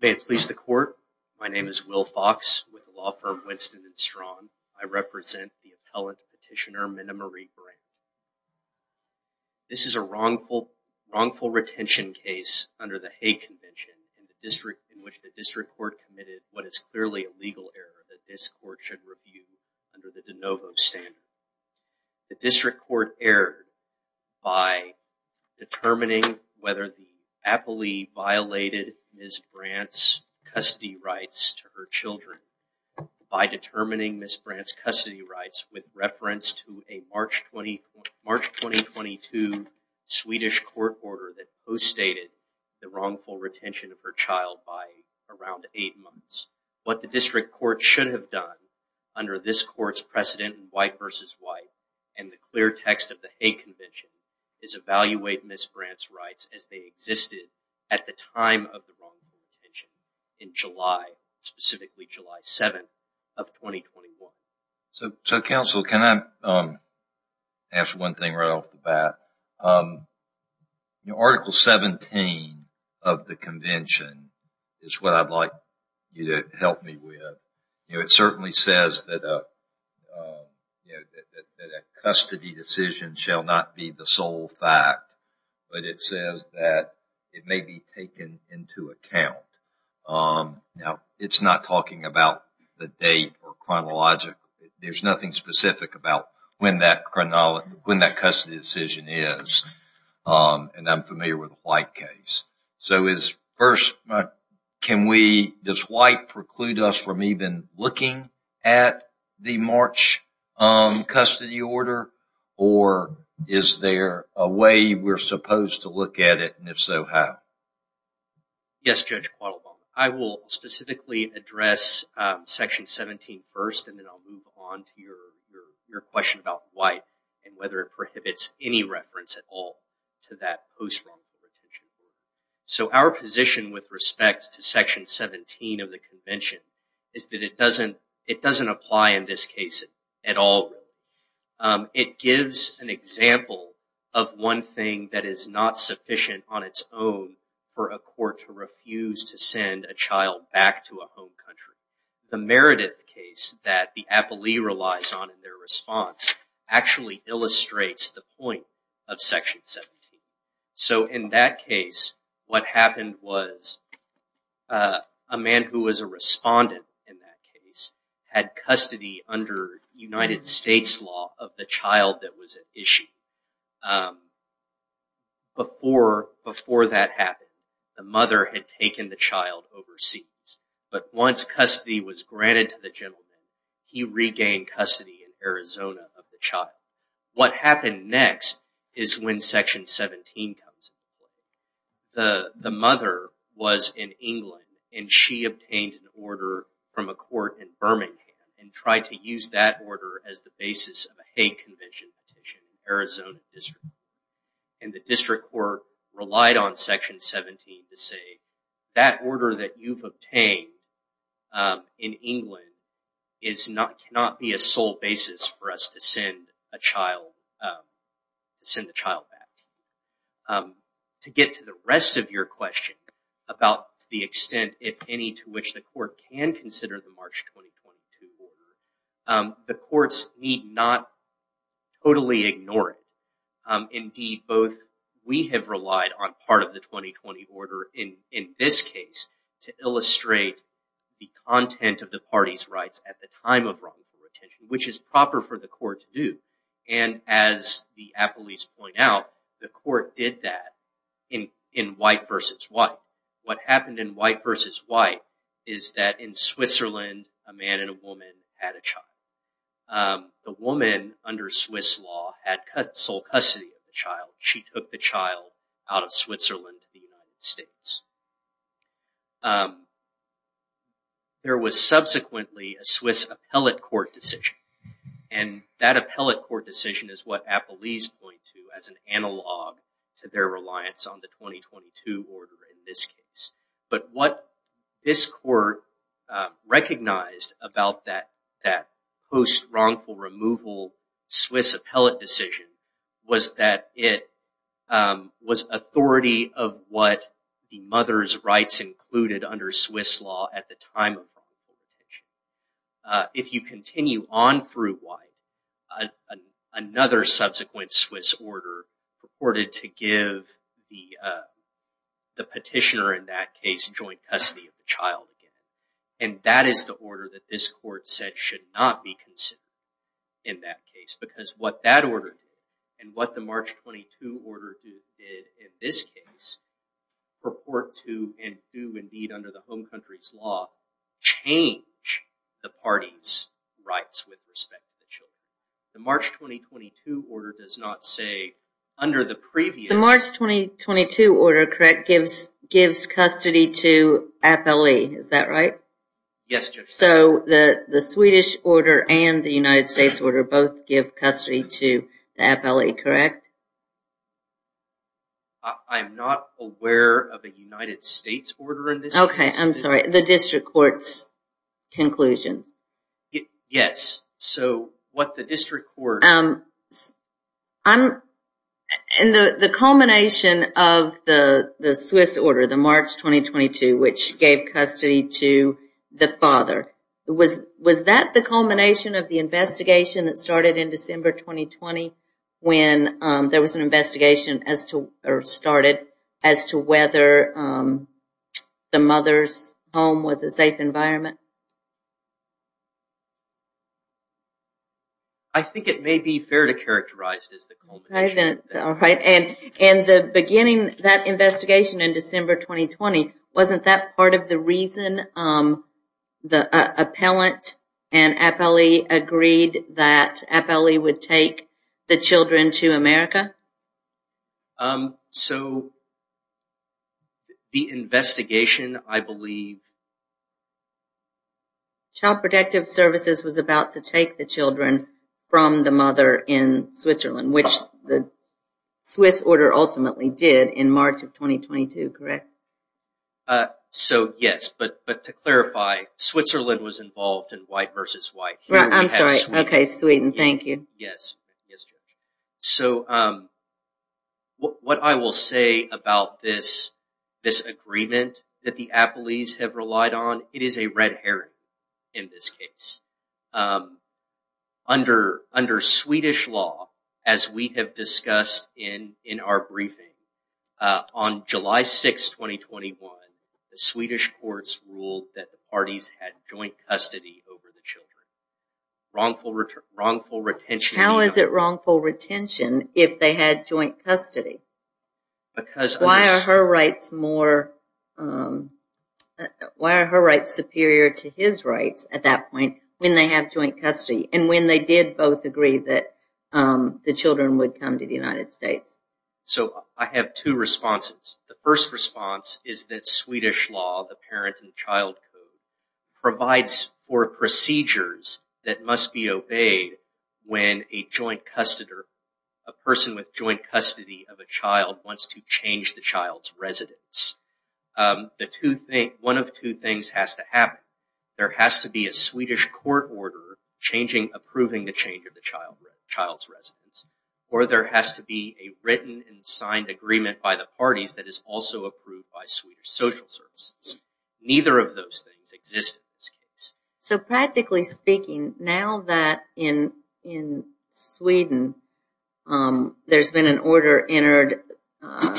May it please the court, my name is Will Fox with the law firm Winston & Strong. I represent the appellant petitioner Minna-Marie Brandt. This is a wrongful retention case under the Hague Convention in which the district court committed what is clearly a legal error that this court should review under the de novo standard. The district court erred by determining whether the Ms. Brandt's custody rights to her children by determining Ms. Brandt's custody rights with reference to a March 2022 Swedish court order that co-stated the wrongful retention of her child by around eight months. What the district court should have done under this court's precedent in white versus white and the clear text of the Hague Convention is evaluate Ms. Brandt's rights as they existed at the time of the wrongful retention in July, specifically July 7th of 2021. So counsel, can I ask one thing right off the bat? Article 17 of the convention is what I'd like you to help me with. It certainly says that a custody decision shall not be the sole fact, but it says that it may be taken into account. Now it's not talking about the date or chronological. There's nothing specific about when that custody decision is and I'm familiar with a white case. So is first, can we, does white preclude us from even looking at the March custody order or is there a way we're supposed to look at it and if so, how? Yes, Judge Quattlebaum. I will specifically address section 17 first and then I'll move on to your question about white and whether it prohibits any reference at all to that post-wrongful retention. So our position with respect to section 17 of the convention is that it doesn't, it doesn't apply in this case at all. It gives an example of one thing that is not sufficient on its own for a court to refuse to send a child back to a home country. The Meredith case that the what happened was a man who was a respondent in that case had custody under United States law of the child that was at issue. Before that happened, the mother had taken the child overseas, but once custody was granted to the gentleman, he regained custody in Arizona of the the mother was in England and she obtained an order from a court in Birmingham and tried to use that order as the basis of a Hague Convention petition in the Arizona district and the district court relied on section 17 to say that order that you've obtained in England is not, cannot be a child, send the child back. To get to the rest of your question about the extent, if any, to which the court can consider the March 2022 order, the courts need not totally ignore it. Indeed, both we have relied on part of the 2020 order in this case to illustrate the content of the party's at the time of wrongful retention, which is proper for the court to do and as the appellees point out, the court did that in white versus white. What happened in white versus white is that in Switzerland, a man and a woman had a child. The woman under Swiss law had sole custody of the child. She took the child out of Switzerland to the United States. There was subsequently a Swiss appellate court decision and that appellate court decision is what appellees point to as an analog to their reliance on the 2022 order in this case, but what this court recognized about that post-wrongful removal Swiss appellate decision was that it was authority of what the mother's rights included under Swiss law at the time of wrongful retention. If you continue on through white, another subsequent Swiss order purported to give the the petitioner in that case joint custody of the child again and that is the order that this court said should not be considered in that case because what that order did and what the March 2022 order did in this case purport to and do indeed under the home country's law change the party's rights with respect to the children. The March 2022 order does not say under the previous... The March 2022 order correct gives custody to appellee, is that right? Yes. So the the Swedish order and the United States order both give custody to the appellee, correct? I'm not aware of a United States order in this case. Okay, I'm sorry the district court's the Swiss order, the March 2022 which gave custody to the father. Was that the culmination of the investigation that started in December 2020 when there was an investigation as to or started as to whether the mother's home was a safe environment? I think it may be fair to characterize it as the culmination. All right, and in the beginning that investigation in December 2020 wasn't that part of the reason the appellant and appellee agreed that appellee would take the children to America? So the investigation I believe was that Child Protective Services was about to take the children from the mother in Switzerland, which the Swiss order ultimately did in March of 2022, correct? So yes, but to clarify, Switzerland was involved in white versus white. I'm sorry, okay Sweden, thank you. Yes. Yes, Judge. So what I will say about this agreement that the appellees have relied on, it is a red herring in this case. Under Swedish law, as we have discussed in our briefing, on July 6, 2021, the Swedish courts ruled that the parties had joint custody over the children. Wrongful retention. How is it wrongful retention if they had joint custody? Because why are her rights more, why are her rights superior to his rights at that point when they have joint custody and when they did both agree that the children would come to the United States? So I have two responses. The first response is that Swedish law, the parent and child code, provides for procedures that must be obeyed when a joint custodian, a person with joint custody of a child wants to change the child's residence. The two things, one of two things has to happen. There has to be a Swedish court order changing, approving the change of the child's residence or there has to be a written and signed agreement by the parties that is also approved by the Swedish court. So practically speaking, now that in Sweden there has been an order entered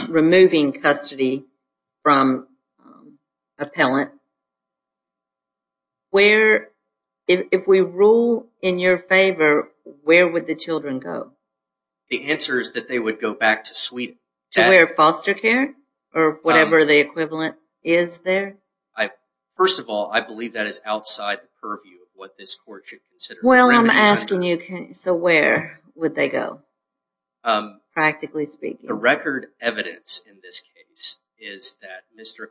removing custody from appellant, if we rule in your favor, where would the children go? The answer is that they would go back to Sweden. To where, foster care or whatever the equivalent is there? I, first of all, I believe that is outside the purview of what this court should consider. Well I'm asking you, so where would they go? Practically speaking. The record evidence in this case is that Mr.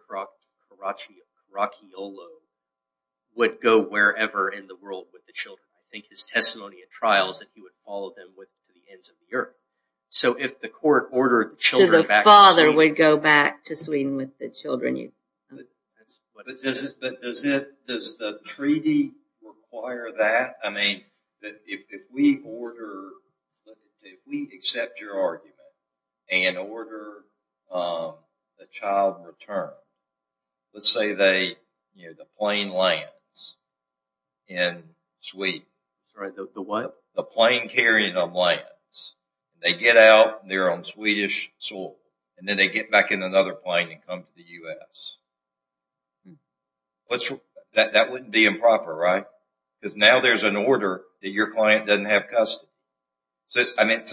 Caracciolo would go wherever in the world with the children. I think his testimony at trials that he would follow them with to the ends of the earth. So if the court ordered the father would go back to Sweden with the children. But does it, does the treaty require that? I mean, if we order, if we accept your argument and order the child returned, let's say they, you know, the plane lands in Sweden. Sorry, the what? The plane carrying them lands. They get out, they're on Swedish soil, and then they get back in another plane and come to the U.S. That wouldn't be improper, right? Because now there's an order that your client doesn't have custody. So, I mean, it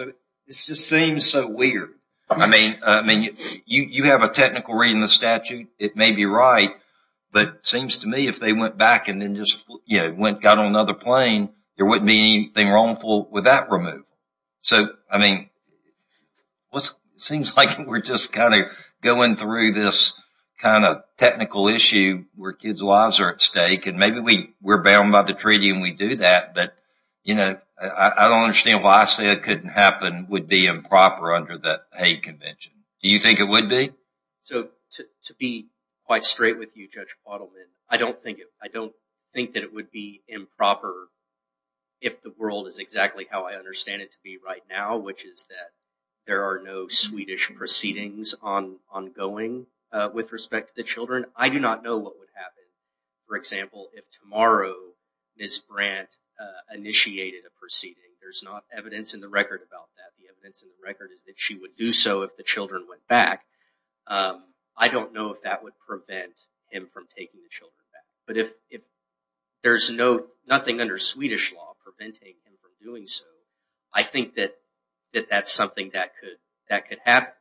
just seems so weird. I mean, you have a technical reading in the statute, it may be right, but it seems to me if they went back and then just, you know, got on another plane, there wouldn't be anything wrongful with that removal. So, I mean, it seems like we're just kind of going through this kind of technical issue where kids' lives are at stake, and maybe we're bound by the treaty and we do that, but, you know, I don't understand why I say it couldn't happen, would be improper under the Hague Convention. Do you think it would be? So, to be quite straight with you, Judge Quattleman, I don't think it, I don't think that it would be improper if the world is exactly how I understand it to be right now, which is that there are no Swedish proceedings ongoing with respect to the children. I do not know what would happen, for example, if tomorrow Ms. Brandt initiated a proceeding. There's not evidence in the record about that. The evidence in the record is that she would do so if the children went back. I don't know if that would prevent him from taking the children back, but if there's no, nothing under Swedish law preventing him from doing so, I think that that's something that could happen.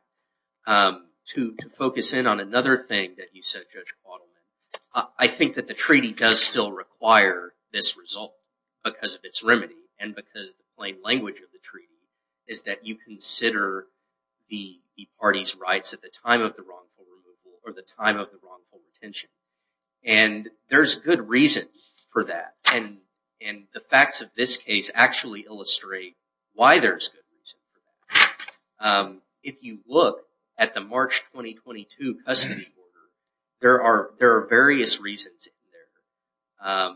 To focus in on another thing that you said, Judge Quattleman, I think that the treaty does still require this result because of its remedy and because the plain language of the time of the wrongful removal or the time of the wrongful detention, and there's good reason for that, and the facts of this case actually illustrate why there's good reason for that. If you look at the March 2022 custody order, there are various reasons in there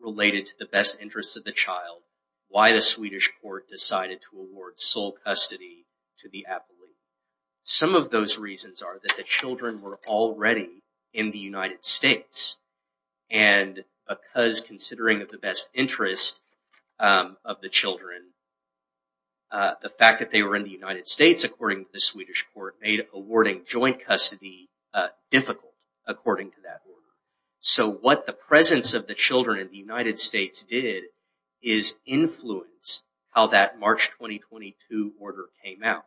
related to the best interests of the child, why the Swedish court decided to award sole custody to the appellee. Some of those reasons are that the children were already in the United States, and because considering of the best interest of the children, the fact that they were in the United States, according to the Swedish court, made awarding joint custody difficult, according to that order. So what the presence of the children in the United States did is influence how that March 2022 order came out,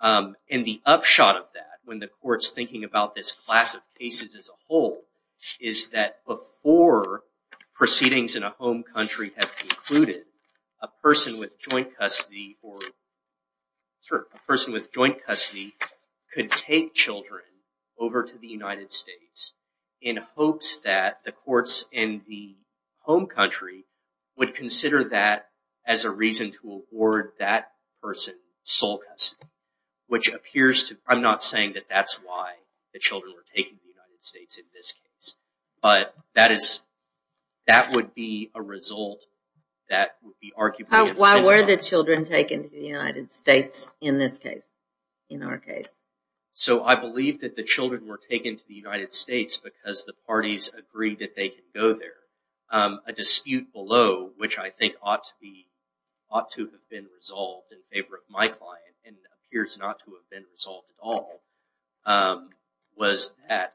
and the upshot of that, when the court's thinking about this class of cases as a whole, is that before proceedings in a home country have concluded, a person with joint custody could take children over to the United States in hopes that the courts in the home country would consider that as a reason to award that person sole custody, which appears to, I'm not saying that that's why the children were taken to the United States in this case, but that is, that would be a result that would be arguably. Why were the children taken to the United States in this case, in our case? So I believe that the children were taken to the United States because the parties agreed that they can go there. A dispute below, which I think ought to be, ought to have been resolved in favor of my client, and appears not to have been resolved at all, was that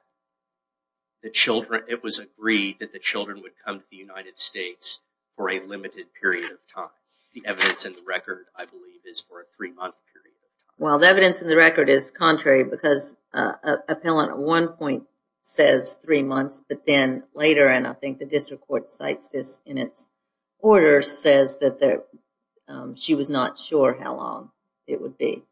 the children, it was agreed that the children would come to the United States for a limited period of time. The evidence in the record, I believe, is for a three-month period. Well, the evidence in the record is contrary because an appellant at one point says three months, but then later, and I think the district court cites this in its order, says that she was not sure how long it would be.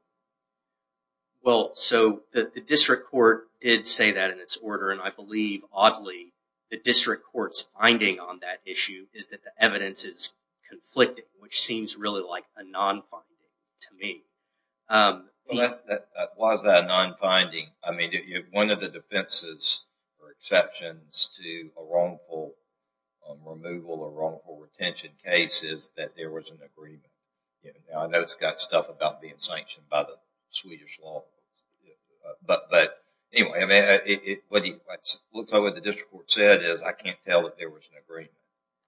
Well, so the district court did say that in its order, and I believe, oddly, the district court's finding on that issue is that the evidence is non-finding to me. Why is that a non-finding? I mean, one of the defenses or exceptions to a wrongful removal or wrongful retention case is that there was an agreement. Now, I know it's got stuff about being sanctioned by the Swedish law, but anyway, what the district court said is I can't tell that there was an agreement.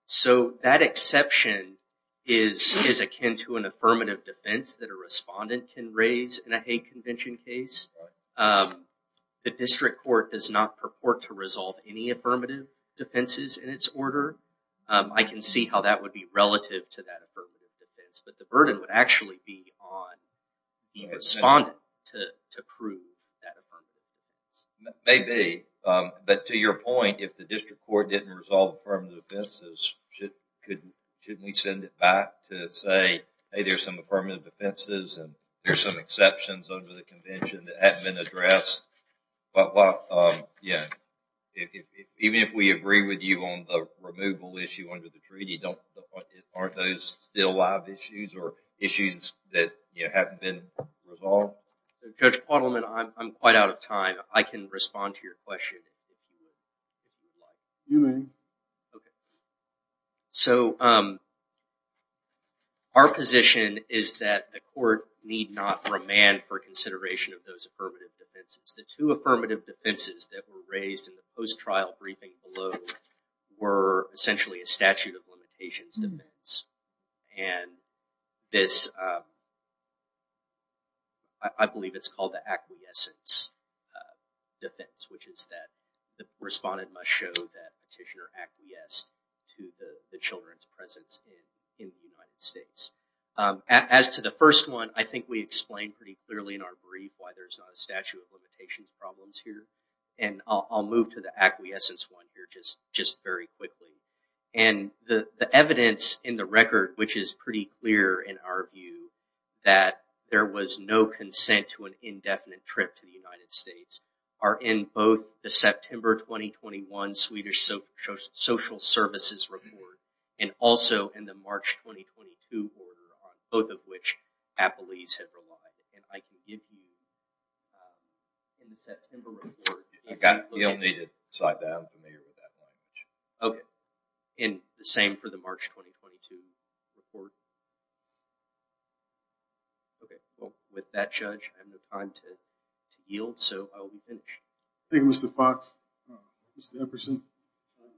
So, that exception is akin to an affirmative defense that a respondent can raise in a hate convention case. The district court does not purport to resolve any affirmative defenses in its order. I can see how that would be relative to that affirmative defense, but the burden would actually be on the respondent to prove that affirmative But, to your point, if the district court didn't resolve affirmative defenses, shouldn't we send it back to say, hey, there's some affirmative defenses and there's some exceptions under the convention that haven't been addressed? Even if we agree with you on the removal issue under the treaty, aren't those still live issues or issues that haven't been resolved? Judge Quattleman, I'm quite out of time. I can respond to your question if you'd like. So, our position is that the court need not remand for consideration of those affirmative defenses. The two affirmative defenses that were raised in the post-trial briefing below were essentially a statute of limitations defense. And this, I believe it's called the acquiescence defense, which is that the respondent must show that petitioner acquiesced to the children's presence in the United States. As to the first one, I think we explained pretty clearly in our brief why there's not a statute of limitations problems here. And I'll move to the acquiescence one here just very quickly. And the evidence in the record, which is pretty clear in our view that there was no consent to an indefinite trip to the United States, are in both the September 2021 Swedish social services report and also in the March 2022 order, on both of which Appleese had relied. And I can give you in the September report. You'll need to slide down for me or without my knowledge. Okay. And the same for the March 2022 report. Okay. Well, with that, Judge, I have no time to yield, so I'll be finished. Thank you, Mr. Fox. Mr. Epperson.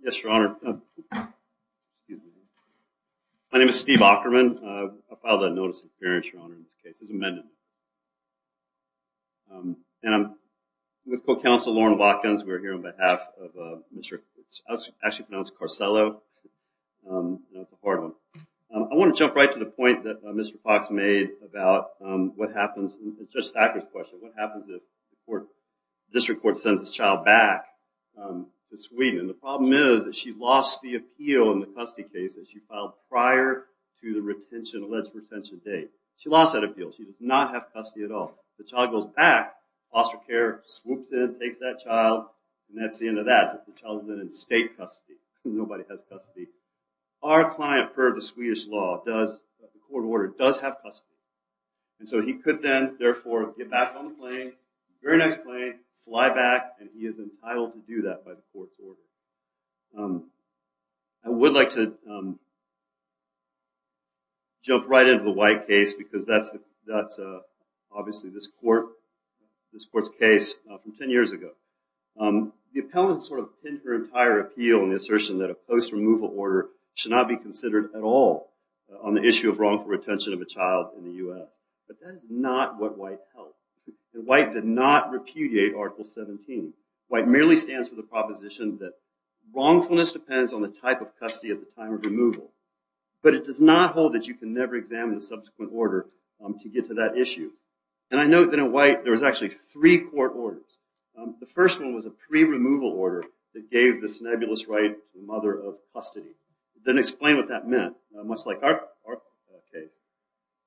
Yes, Your Honor. My name is Steve Ockerman. I filed a notice of appearance, Your Honor, in this case as amendment. And I'm with Co-Counsel Lauren Watkins. We're here on behalf of Mr. actually pronounced Carsello. You know, it's a hard one. I want to jump right to the point that Mr. Fox made about what happens, Judge Stacker's question, what happens if the district court sends this child back to Sweden? The problem is that she lost the appeal in the custody case that she filed prior to the retention, alleged retention date. She lost that appeal. She does not have custody at all. The child goes back, foster care swoops in, takes that child, and that's the end of that. The child is in state custody. Nobody has custody. Our client, per the Swedish law, does, the court order, does have custody. And so he could then, therefore, get back on the plane, very nice plane, fly back, and he is entitled to do that by the court's order. I would like to jump right into the White case, because that's obviously this court's case from 10 years ago. The appellant sort of pinned her entire appeal in the assertion that a post-removal order should not be considered at all on the issue of wrongful retention of a child in the U.S. But that is not what White held. White did not repudiate Article 17. White merely stands for the proposition that wrongfulness depends on the type of custody at the time of removal. But it does not hold that you can never examine the subsequent order to get to that issue. And I note that in White, there was actually three court orders. The first one was a pre-removal order that gave the snobulous right to mother of custody. It doesn't explain what that meant, much like our case.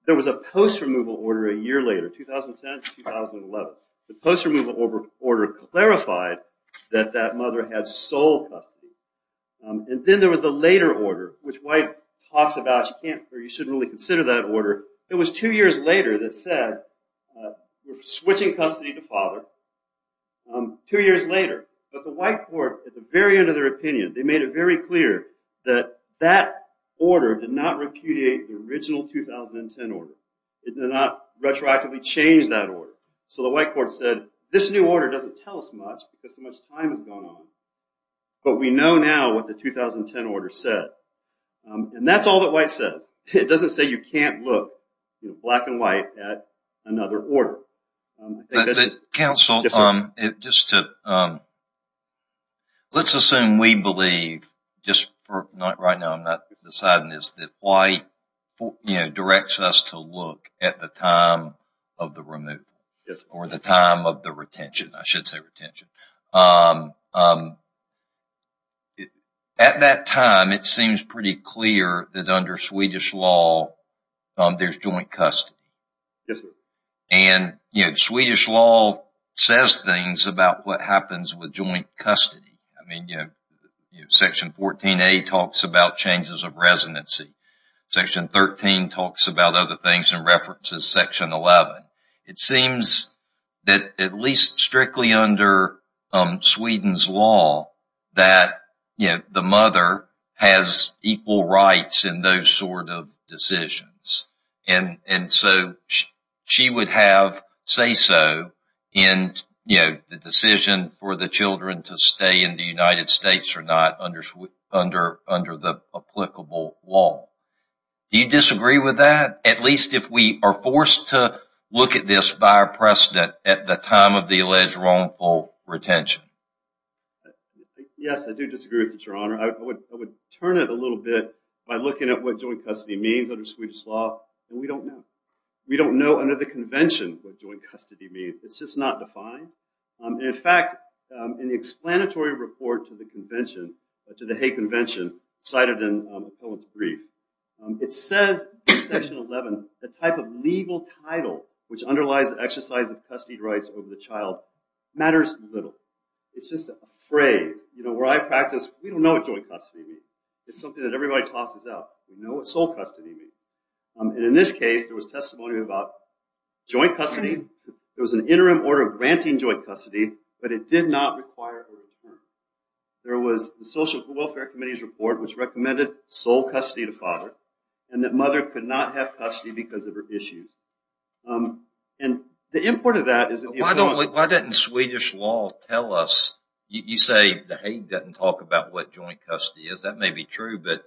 There was a post-removal order a year later, 2010 to 2011. The post-removal order clarified that that mother had sole custody. And then there was the later order, which White talks about, you shouldn't really consider that order. It was two years later that said, we're switching custody to father. Two years later. But the White court, at the very end of their opinion, they made it very clear that that order did not repudiate the original 2010 order. It did not retroactively change that order. So the White court said, this new order doesn't tell us much because so much time has gone on. But we know now what the 2010 order said. And that's all that White says. It doesn't say you can't look, Black and White, at another order. Counsel, let's assume we believe, just right now I'm not deciding this, that White directs us to look at the time of the removal. Or the time of the retention. I should say retention. At that time, it seems pretty clear that under Swedish law, there's joint custody. And Swedish law says things about what happens with joint custody. Section 14a talks about changes of residency. Section 13 talks about other things and references section 11. It seems that at least strictly under Sweden's law, that the mother has equal rights in those sort of decisions. And so she would have say so in the decision for the children to stay in the United States or not under the applicable law. Do you disagree with that? At least if we are forced to look at this by our precedent at the time of the alleged wrongful retention. Yes, I do disagree with it, your honor. I would turn it a little bit by looking at what joint custody means under Swedish law. And we don't know. We don't know under the convention what joint custody means. It's just not defined. In fact, in the explanatory report to the convention, to the Hague convention cited in the brief, it says in section 11, the type of legal title which underlies the exercise of custody rights over the child matters little. It's just a phrase. Where I practice, we don't know what joint custody means. It's something that everybody tosses out. We know what sole custody means. And in this case, there was testimony about joint custody. There was an interim order granting joint custody, but it did not require a return. There was the Social Welfare Committee's report which recommended sole custody to father, and that mother could not have custody because of her issues. And the import of that is... But why didn't Swedish law tell us? You say the Hague doesn't talk about what joint custody is. That may be true, but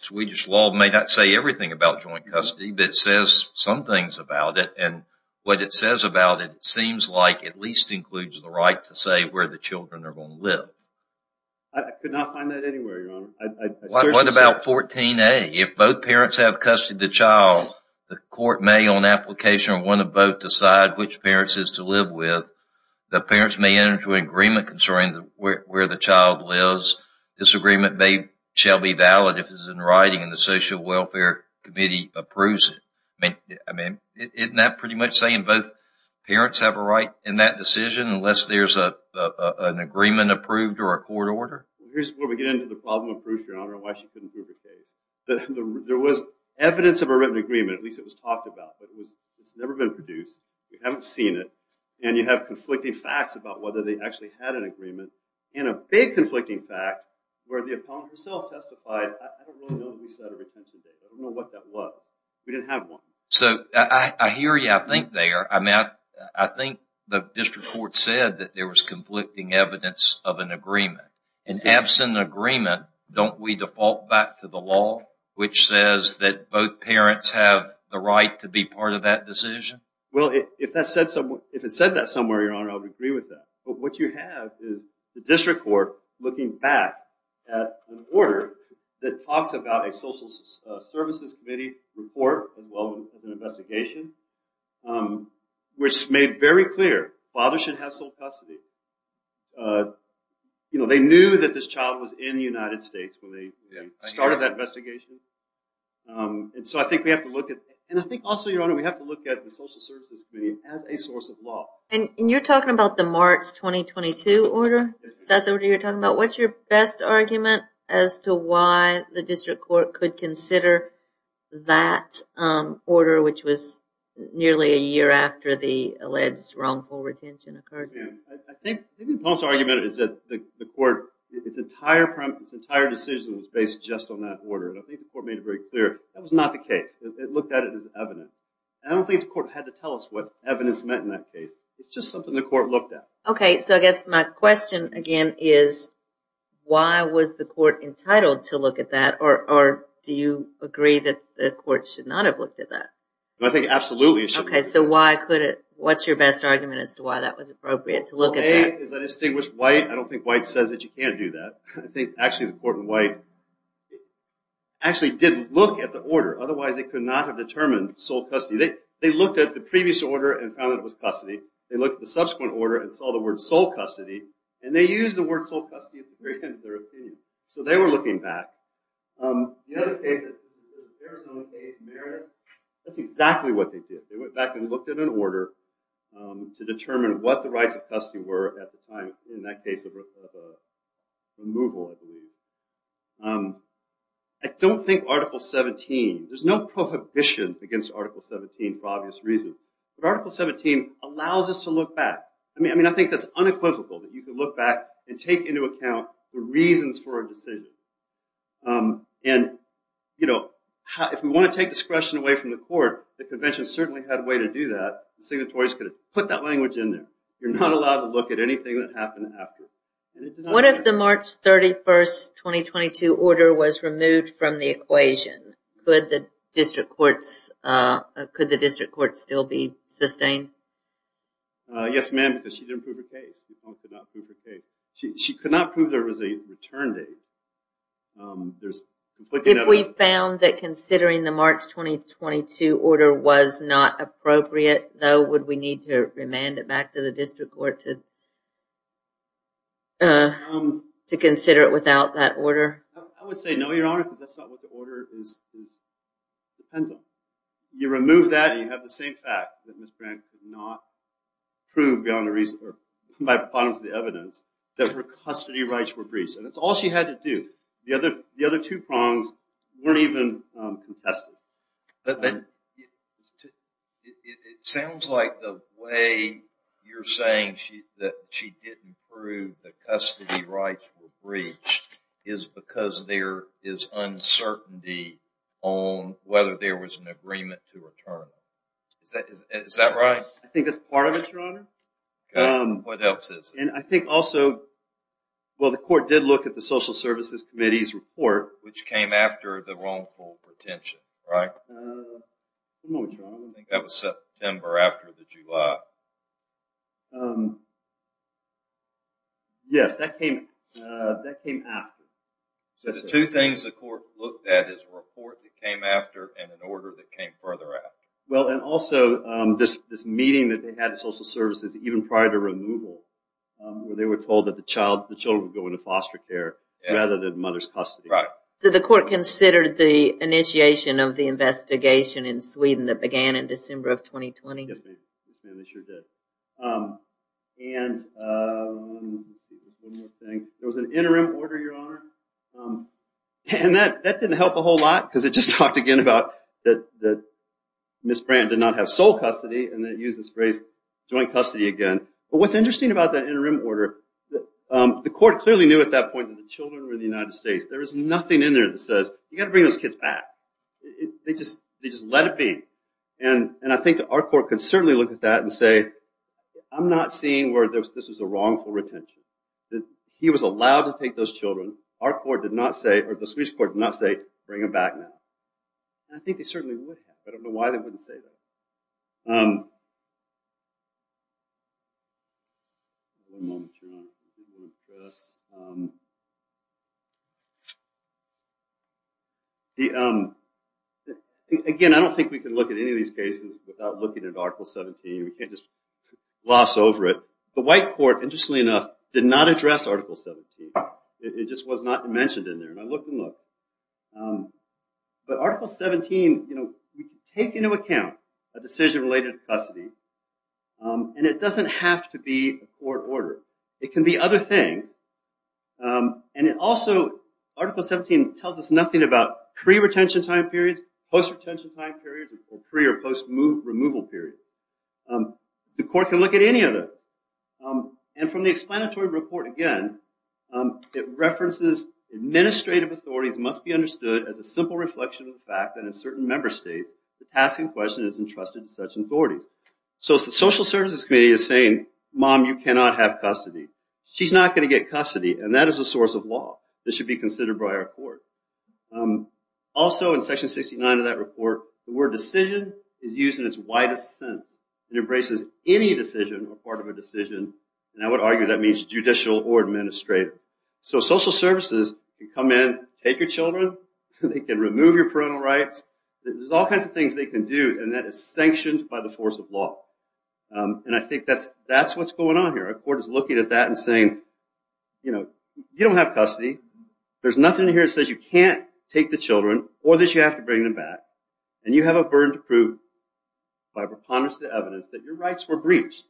Swedish law may not say everything about joint custody, but it says some things about it. And what it says about it seems like it at least includes the right to say where the children are going to live. I could not find that anywhere, Your Honor. What about 14A? If both parents have custody of the child, the court may, on application, or one of both, decide which parents it is to live with. The parents may enter into an agreement concerning where the child lives. This agreement shall be valid if it's in writing and the Social Welfare Committee's report. Isn't that pretty much saying both parents have a right in that decision unless there's an agreement approved or a court order? Here's where we get into the problem of Peruse, Your Honor, and why she couldn't prove her case. There was evidence of a written agreement, at least it was talked about, but it's never been produced. We haven't seen it. And you have conflicting facts about whether they actually had an agreement, and a big conflicting fact where the opponent herself testified. I don't really know who set a retention date. I don't So, I hear you. I think the district court said that there was conflicting evidence of an agreement. In absent of agreement, don't we default back to the law which says that both parents have the right to be part of that decision? Well, if it said that somewhere, Your Honor, I would agree with that. But what you have is the district court looking back at an order that talks about a Social Services Committee report, as well as an investigation, which made very clear fathers should have sole custody. You know, they knew that this child was in the United States when they started that investigation. And so, I think we have to look at, and I think also, Your Honor, we have to look at the Social Services Committee as a source of law. And you're talking about the March 2022 order, is that the order you're talking about? What's your best argument as to why the district court could consider that order, which was nearly a year after the alleged wrongful retention occurred? I think the most argument is that the court, its entire decision was based just on that order. And I think the court made it very clear that was not the case. It looked at it as evidence. And I don't think the court had to tell us what evidence meant in that case. It's just something the court looked at. Okay, so I guess my question again is, why was the court entitled to look at that? Or do you agree that the court should not have looked at that? I think absolutely it should. Okay, so why could it, what's your best argument as to why that was appropriate to look at that? Well, A, is that distinguished white? I don't think white says that you can't do that. I think actually the court in white actually did look at the order. Otherwise, they could not have determined sole custody. They looked at the previous order and found that it was custody. They looked at the subsequent order and saw the word sole custody. And they used the word sole custody at the very end of their appeal. So they were looking back. The other case, the Sarasota case, Meredith, that's exactly what they did. They went back and looked at an order to determine what the rights of custody were at the time in that case of removal, I believe. I don't think Article 17, there's no prohibition against Article 17 for obvious reasons. But Article 17 allows us to look back. I mean, I think that's unequivocal that you could look back and take into account the reasons for a decision. And, you know, if we want to take discretion away from the court, the convention certainly had a way to do that. The signatories could have put that language in there. You're not allowed to look at anything that happened after. What if the March 31st, 2022 order was removed from the equation? Could the district courts still be sustained? Yes, ma'am, because she didn't prove her case. She could not prove there was a return date. If we found that considering the March 2022 order was not appropriate, though, would we need to remand it back to the district court to consider it without that order? I would say no, Your Honor, because that's not what the order is dependent on. You remove that, you have the same fact that Ms. Grant could not prove beyond the reason or by the bottom of the evidence that her custody rights were breached. And that's all she had to do. The other two prongs weren't even contested. But it sounds like the way you're saying that she didn't prove that custody rights were breached is because there is uncertainty on whether there was an agreement to return it. Is that right? I think that's part of it, Your Honor. And I think also, well, the court did look at the Social Services Committee's report, which came after the wrongful pretension, right? I think that was September after the July. Yes, that came after. So the two things the court looked at is a report that came after and an order that came further after. Well, and also this meeting that they had at Social Services, even prior to removal, where they were told that the child, the children would go into foster care rather than mother's custody. Right. So the court considered the initiation of the investigation in Sweden that they did. And one more thing. There was an interim order, Your Honor. And that didn't help a whole lot because it just talked again about that Ms. Brandt did not have sole custody, and then it used this phrase joint custody again. But what's interesting about that interim order, the court clearly knew at that point that the children were in the United States. There is nothing in there that says, you got to bring those kids back. They just let it be. And I think that our court could certainly look at that and say, I'm not seeing where this is a wrongful retention. He was allowed to take those children. Our court did not say, or the Swedish court did not say, bring them back now. I think they certainly would have, but I don't know why they wouldn't say that. Again, I don't think we can look at any of these cases without looking at Article 17. We can't just gloss over it. The white court, interestingly enough, did not address Article 17. It just was not mentioned in there. I looked and looked. But Article 17, you can take into account a decision related to custody, and it doesn't have to be a court order. It can be other things. And also, Article 17 tells us nothing about pre-retention time periods, post-retention time periods, or pre- or post-removal periods. The court can look at any of those. And from the explanatory report again, it references administrative authorities must be understood as a simple reflection of the fact that in certain member states, the task in question is entrusted to such authorities. So if the social services committee is saying, mom, you cannot have custody, she's not going to get custody. And that is a source of law. This should be considered by our court. Also in Section 69 of that report, the word decision is used in its widest sense. It embraces any decision or part of a decision. And I would argue that means judicial or administrative. So social services can come in, take your children. They can remove your parental rights. There's all kinds of things they can do, and that is sanctioned by the force of law. And I think that's what's going on here. Our court is looking at that and saying, you know, you don't have custody. There's nothing here that says you can't take the children or that you have to bring them back. And you have a burden to prove by preponderance of the evidence that your rights were breached.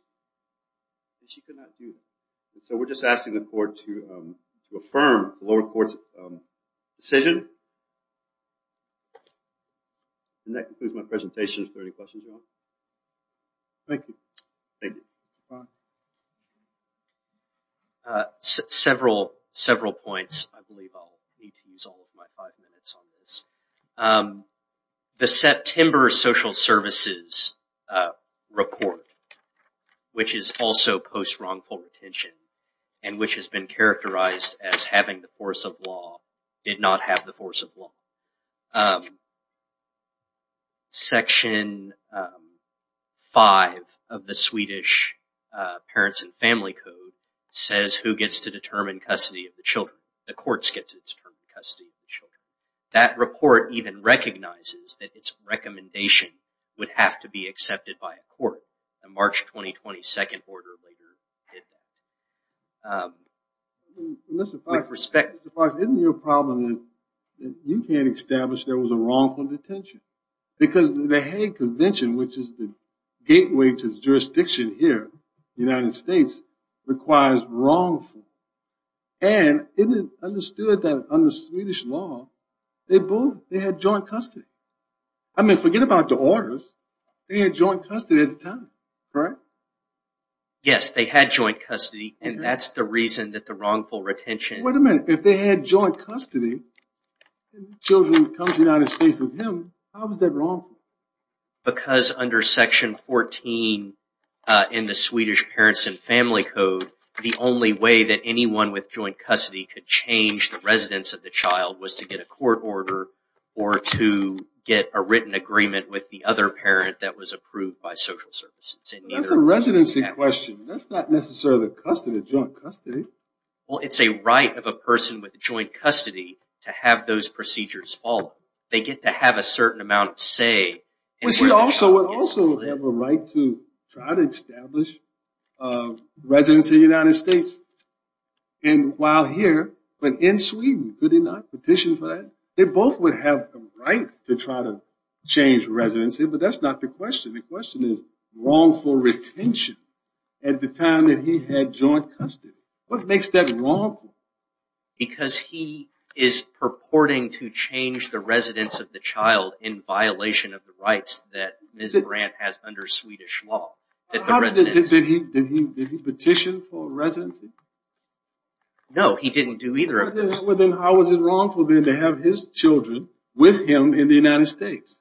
And she could not do it. So we're just asking the court to affirm the lower court's decision. And that concludes my presentation. If there are any questions at all. Thank you. Thank you. Several, several points. I believe I'll need to use all of my five minutes on this. The September social services report, which is also post-wrongful retention, and which has been characterized as having the force of law, did not have the force of law. Section five of the Swedish Parents and Family Code says who gets to determine custody of the child. That report even recognizes that its recommendation would have to be accepted by a court. The March 2020 second order later did that. Mr. Fox, isn't your problem that you can't establish there was a wrongful detention? Because the Hague Convention, which is the gateway to jurisdiction here in the United States, requires wrongful. And isn't it understood that under they had joint custody? I mean, forget about the orders. They had joint custody at the time, correct? Yes, they had joint custody. And that's the reason that the wrongful retention... Wait a minute. If they had joint custody, children come to the United States with him, how was that wrongful? Because under section 14 in the Swedish Parents and Family Code, the only way that anyone with joint custody could change the residence of the child was to get a court order or to get a written agreement with the other parent that was approved by social services. That's a residency question. That's not necessarily custody, joint custody. Well, it's a right of a person with joint custody to have those procedures followed. They get to have a certain amount of say. We also have a right to try to establish residence in the United States. And while here, but in Sweden, could he not petition for that? They both would have the right to try to change residency, but that's not the question. The question is wrongful retention at the time that he had joint custody. What makes that wrongful? Because he is purporting to change the residence of the child in violation of the rights that Ms. Brandt has under Swedish law. Did he petition for residency? No, he didn't do either of those. Well, then how was it wrongful then to have his children with him in the United States?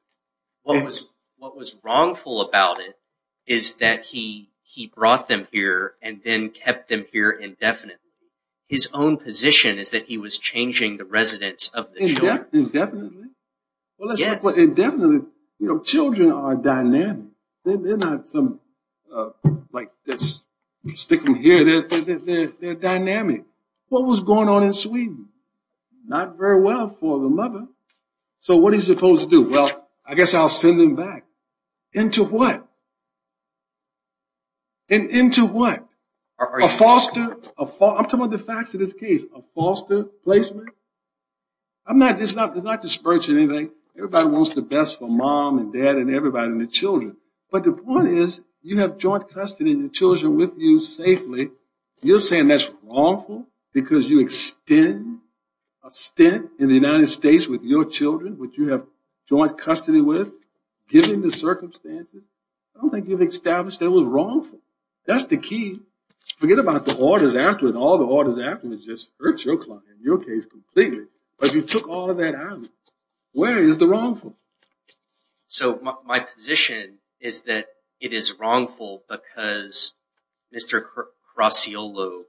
What was wrongful about it is that he brought them here and then kept them here indefinitely. His own position is that he was changing the residence of the children. Indefinitely? Yes. Indefinitely. Children are dynamic. They're not some like this sticking here. They're dynamic. What was going on in Sweden? Not very well for the mother. So what is he supposed to do? Well, I guess I'll send them back. Into what? Into what? A foster? I'm talking about the facts of this case. A foster placement? It's not dispersing anything. Everybody wants the best for mom and dad and everybody and the children. But the point is, you have joint custody of your children with you safely. You're saying that's wrongful because you extend a stint in the United States with your children, which you have joint custody with, given the circumstances? I don't think you've established that was wrongful. That's the key. Forget about the orders afterwards, all the orders afterwards just hurt your client, in your case completely, because you took all of that out. Where is the wrongful? So my position is that it is wrongful because Mr. Crassiolo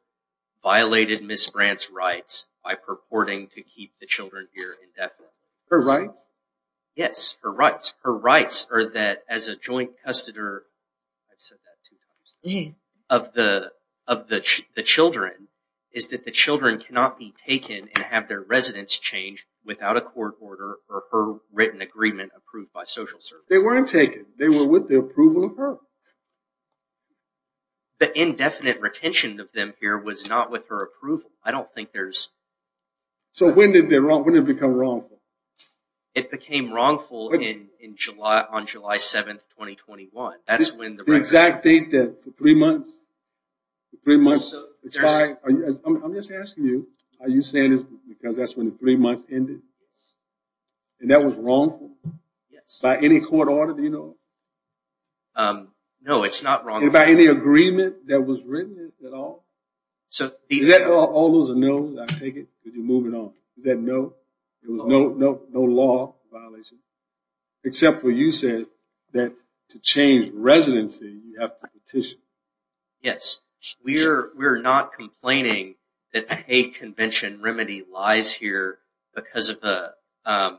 violated Ms. Brandt's rights by purporting to keep the children here indefinitely. Her rights? Yes, her rights. Her rights are that as a joint custodian, I've said that two times, of the children is that the children cannot be taken and have their residence changed without a court order or her written agreement approved by social services. They weren't taken. They were with the approval of her. The indefinite retention of them here was not with her approval. I don't think there's... So when did it become wrongful? It became wrongful on July 7, 2021. That's when the... The exact date that for three months... I'm just asking you, are you saying it's because that's when the three months ended? And that was wrongful? Yes. By any court order, do you know? No, it's not wrongful. By any agreement that was written at all? So... All those are no's, I take it, because you're moving on. Is that no? There was no law violation except for you said that to change residency, you have to petition. Yes. We're not complaining that a convention remedy lies here because of a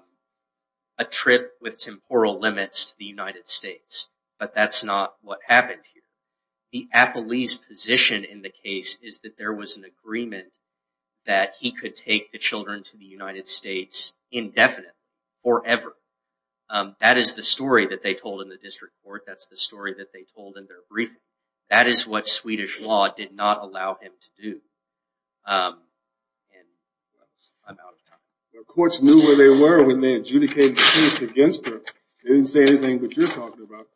trip with temporal limits to the United States, but that's not what happened here. The appellee's position in the case is that there was an agreement that he could take the children to the United States indefinite, forever. That is the story that they told in the district court. That's the story that they told in their briefing. That is what Swedish law did not allow him to do. And I'm out of time. The courts knew where they were when they adjudicated the case against her. They didn't say anything, but you're talking about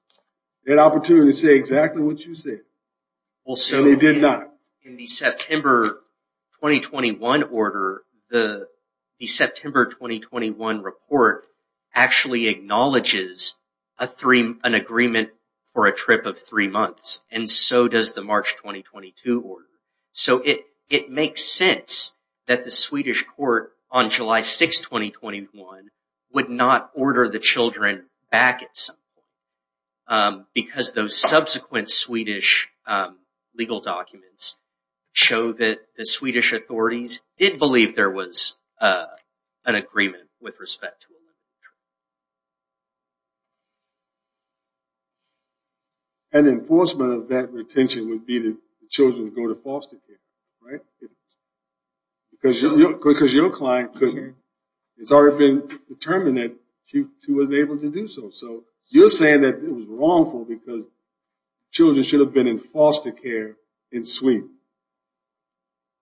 that opportunity to say exactly what you said. Well, so they did not. In the September 2021 order, the September 2021 report actually acknowledges an agreement for a trip of three months. And so does the March 2022 order. So it makes sense that the Swedish court on July 6th, 2021, would not order the children back at some point because those subsequent Swedish legal documents show that the Swedish authorities did believe there was an agreement with respect to a trip. And enforcement of that retention would be that the children go to foster care, right? Because your client has already been determined that she wasn't able to do so. So you're saying that it was wrongful because children should have been in foster care in Sweden.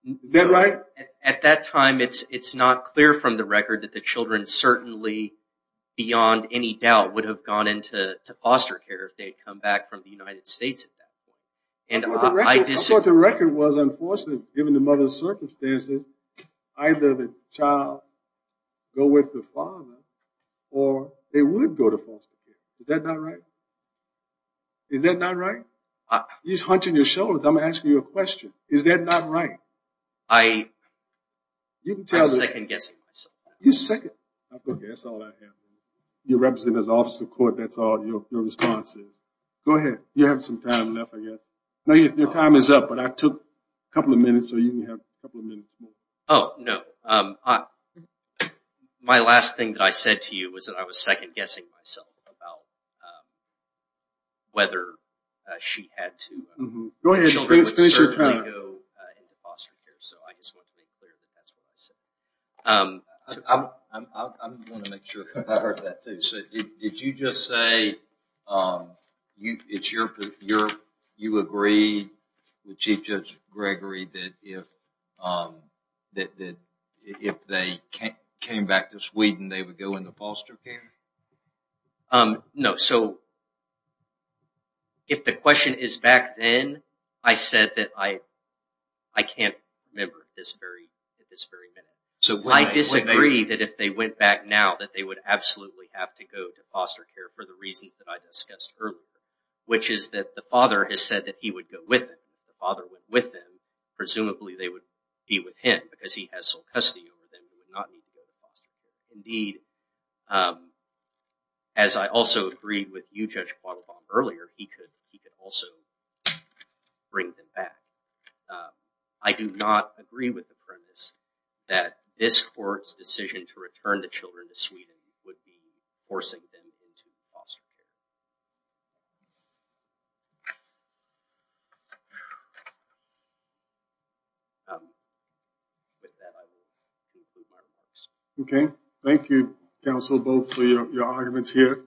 Is that right? At that time, it's not clear from the record that the children certainly, beyond any doubt, would have gone into foster care if they had come back from the United States. I thought the record was, unfortunately, given the mother's circumstances, either the child go with the father or they would go to foster care. Is that not right? Is that not right? You're just hunching your shoulders. I'm asking you a question. Is that not right? I second guessing myself. You second. Okay, that's all I have for you. Court, that's all your response is. Go ahead. You have some time left, I guess. No, your time is up, but I took a couple of minutes, so you can have a couple of minutes more. Oh, no. My last thing that I said to you was that I was second guessing myself about whether she had to. Go ahead. Finish your time. Foster care, so I just want to make clear that that's what I said. I want to make sure I heard that, too. Did you just say you agree with Chief Judge Gregory that if they came back to Sweden, they would go into foster care? No, so if the question is back then, I said that I can't remember at this very minute. I disagree that if they went back now, that they would absolutely have to go to foster care for the reasons that I discussed earlier, which is that the father has said that he would go with them. If the father went with them, presumably they would be with him because he has sole custody over them. He would not need to go to foster care. Indeed, as I also agreed with you, Judge Quattlebaum, earlier, he could also bring them back. I do not agree with the premise that this court's decision to return the children to Sweden would be forcing them into foster care. With that, I will conclude my remarks. Okay. Thank you, counsel, both for your arguments here.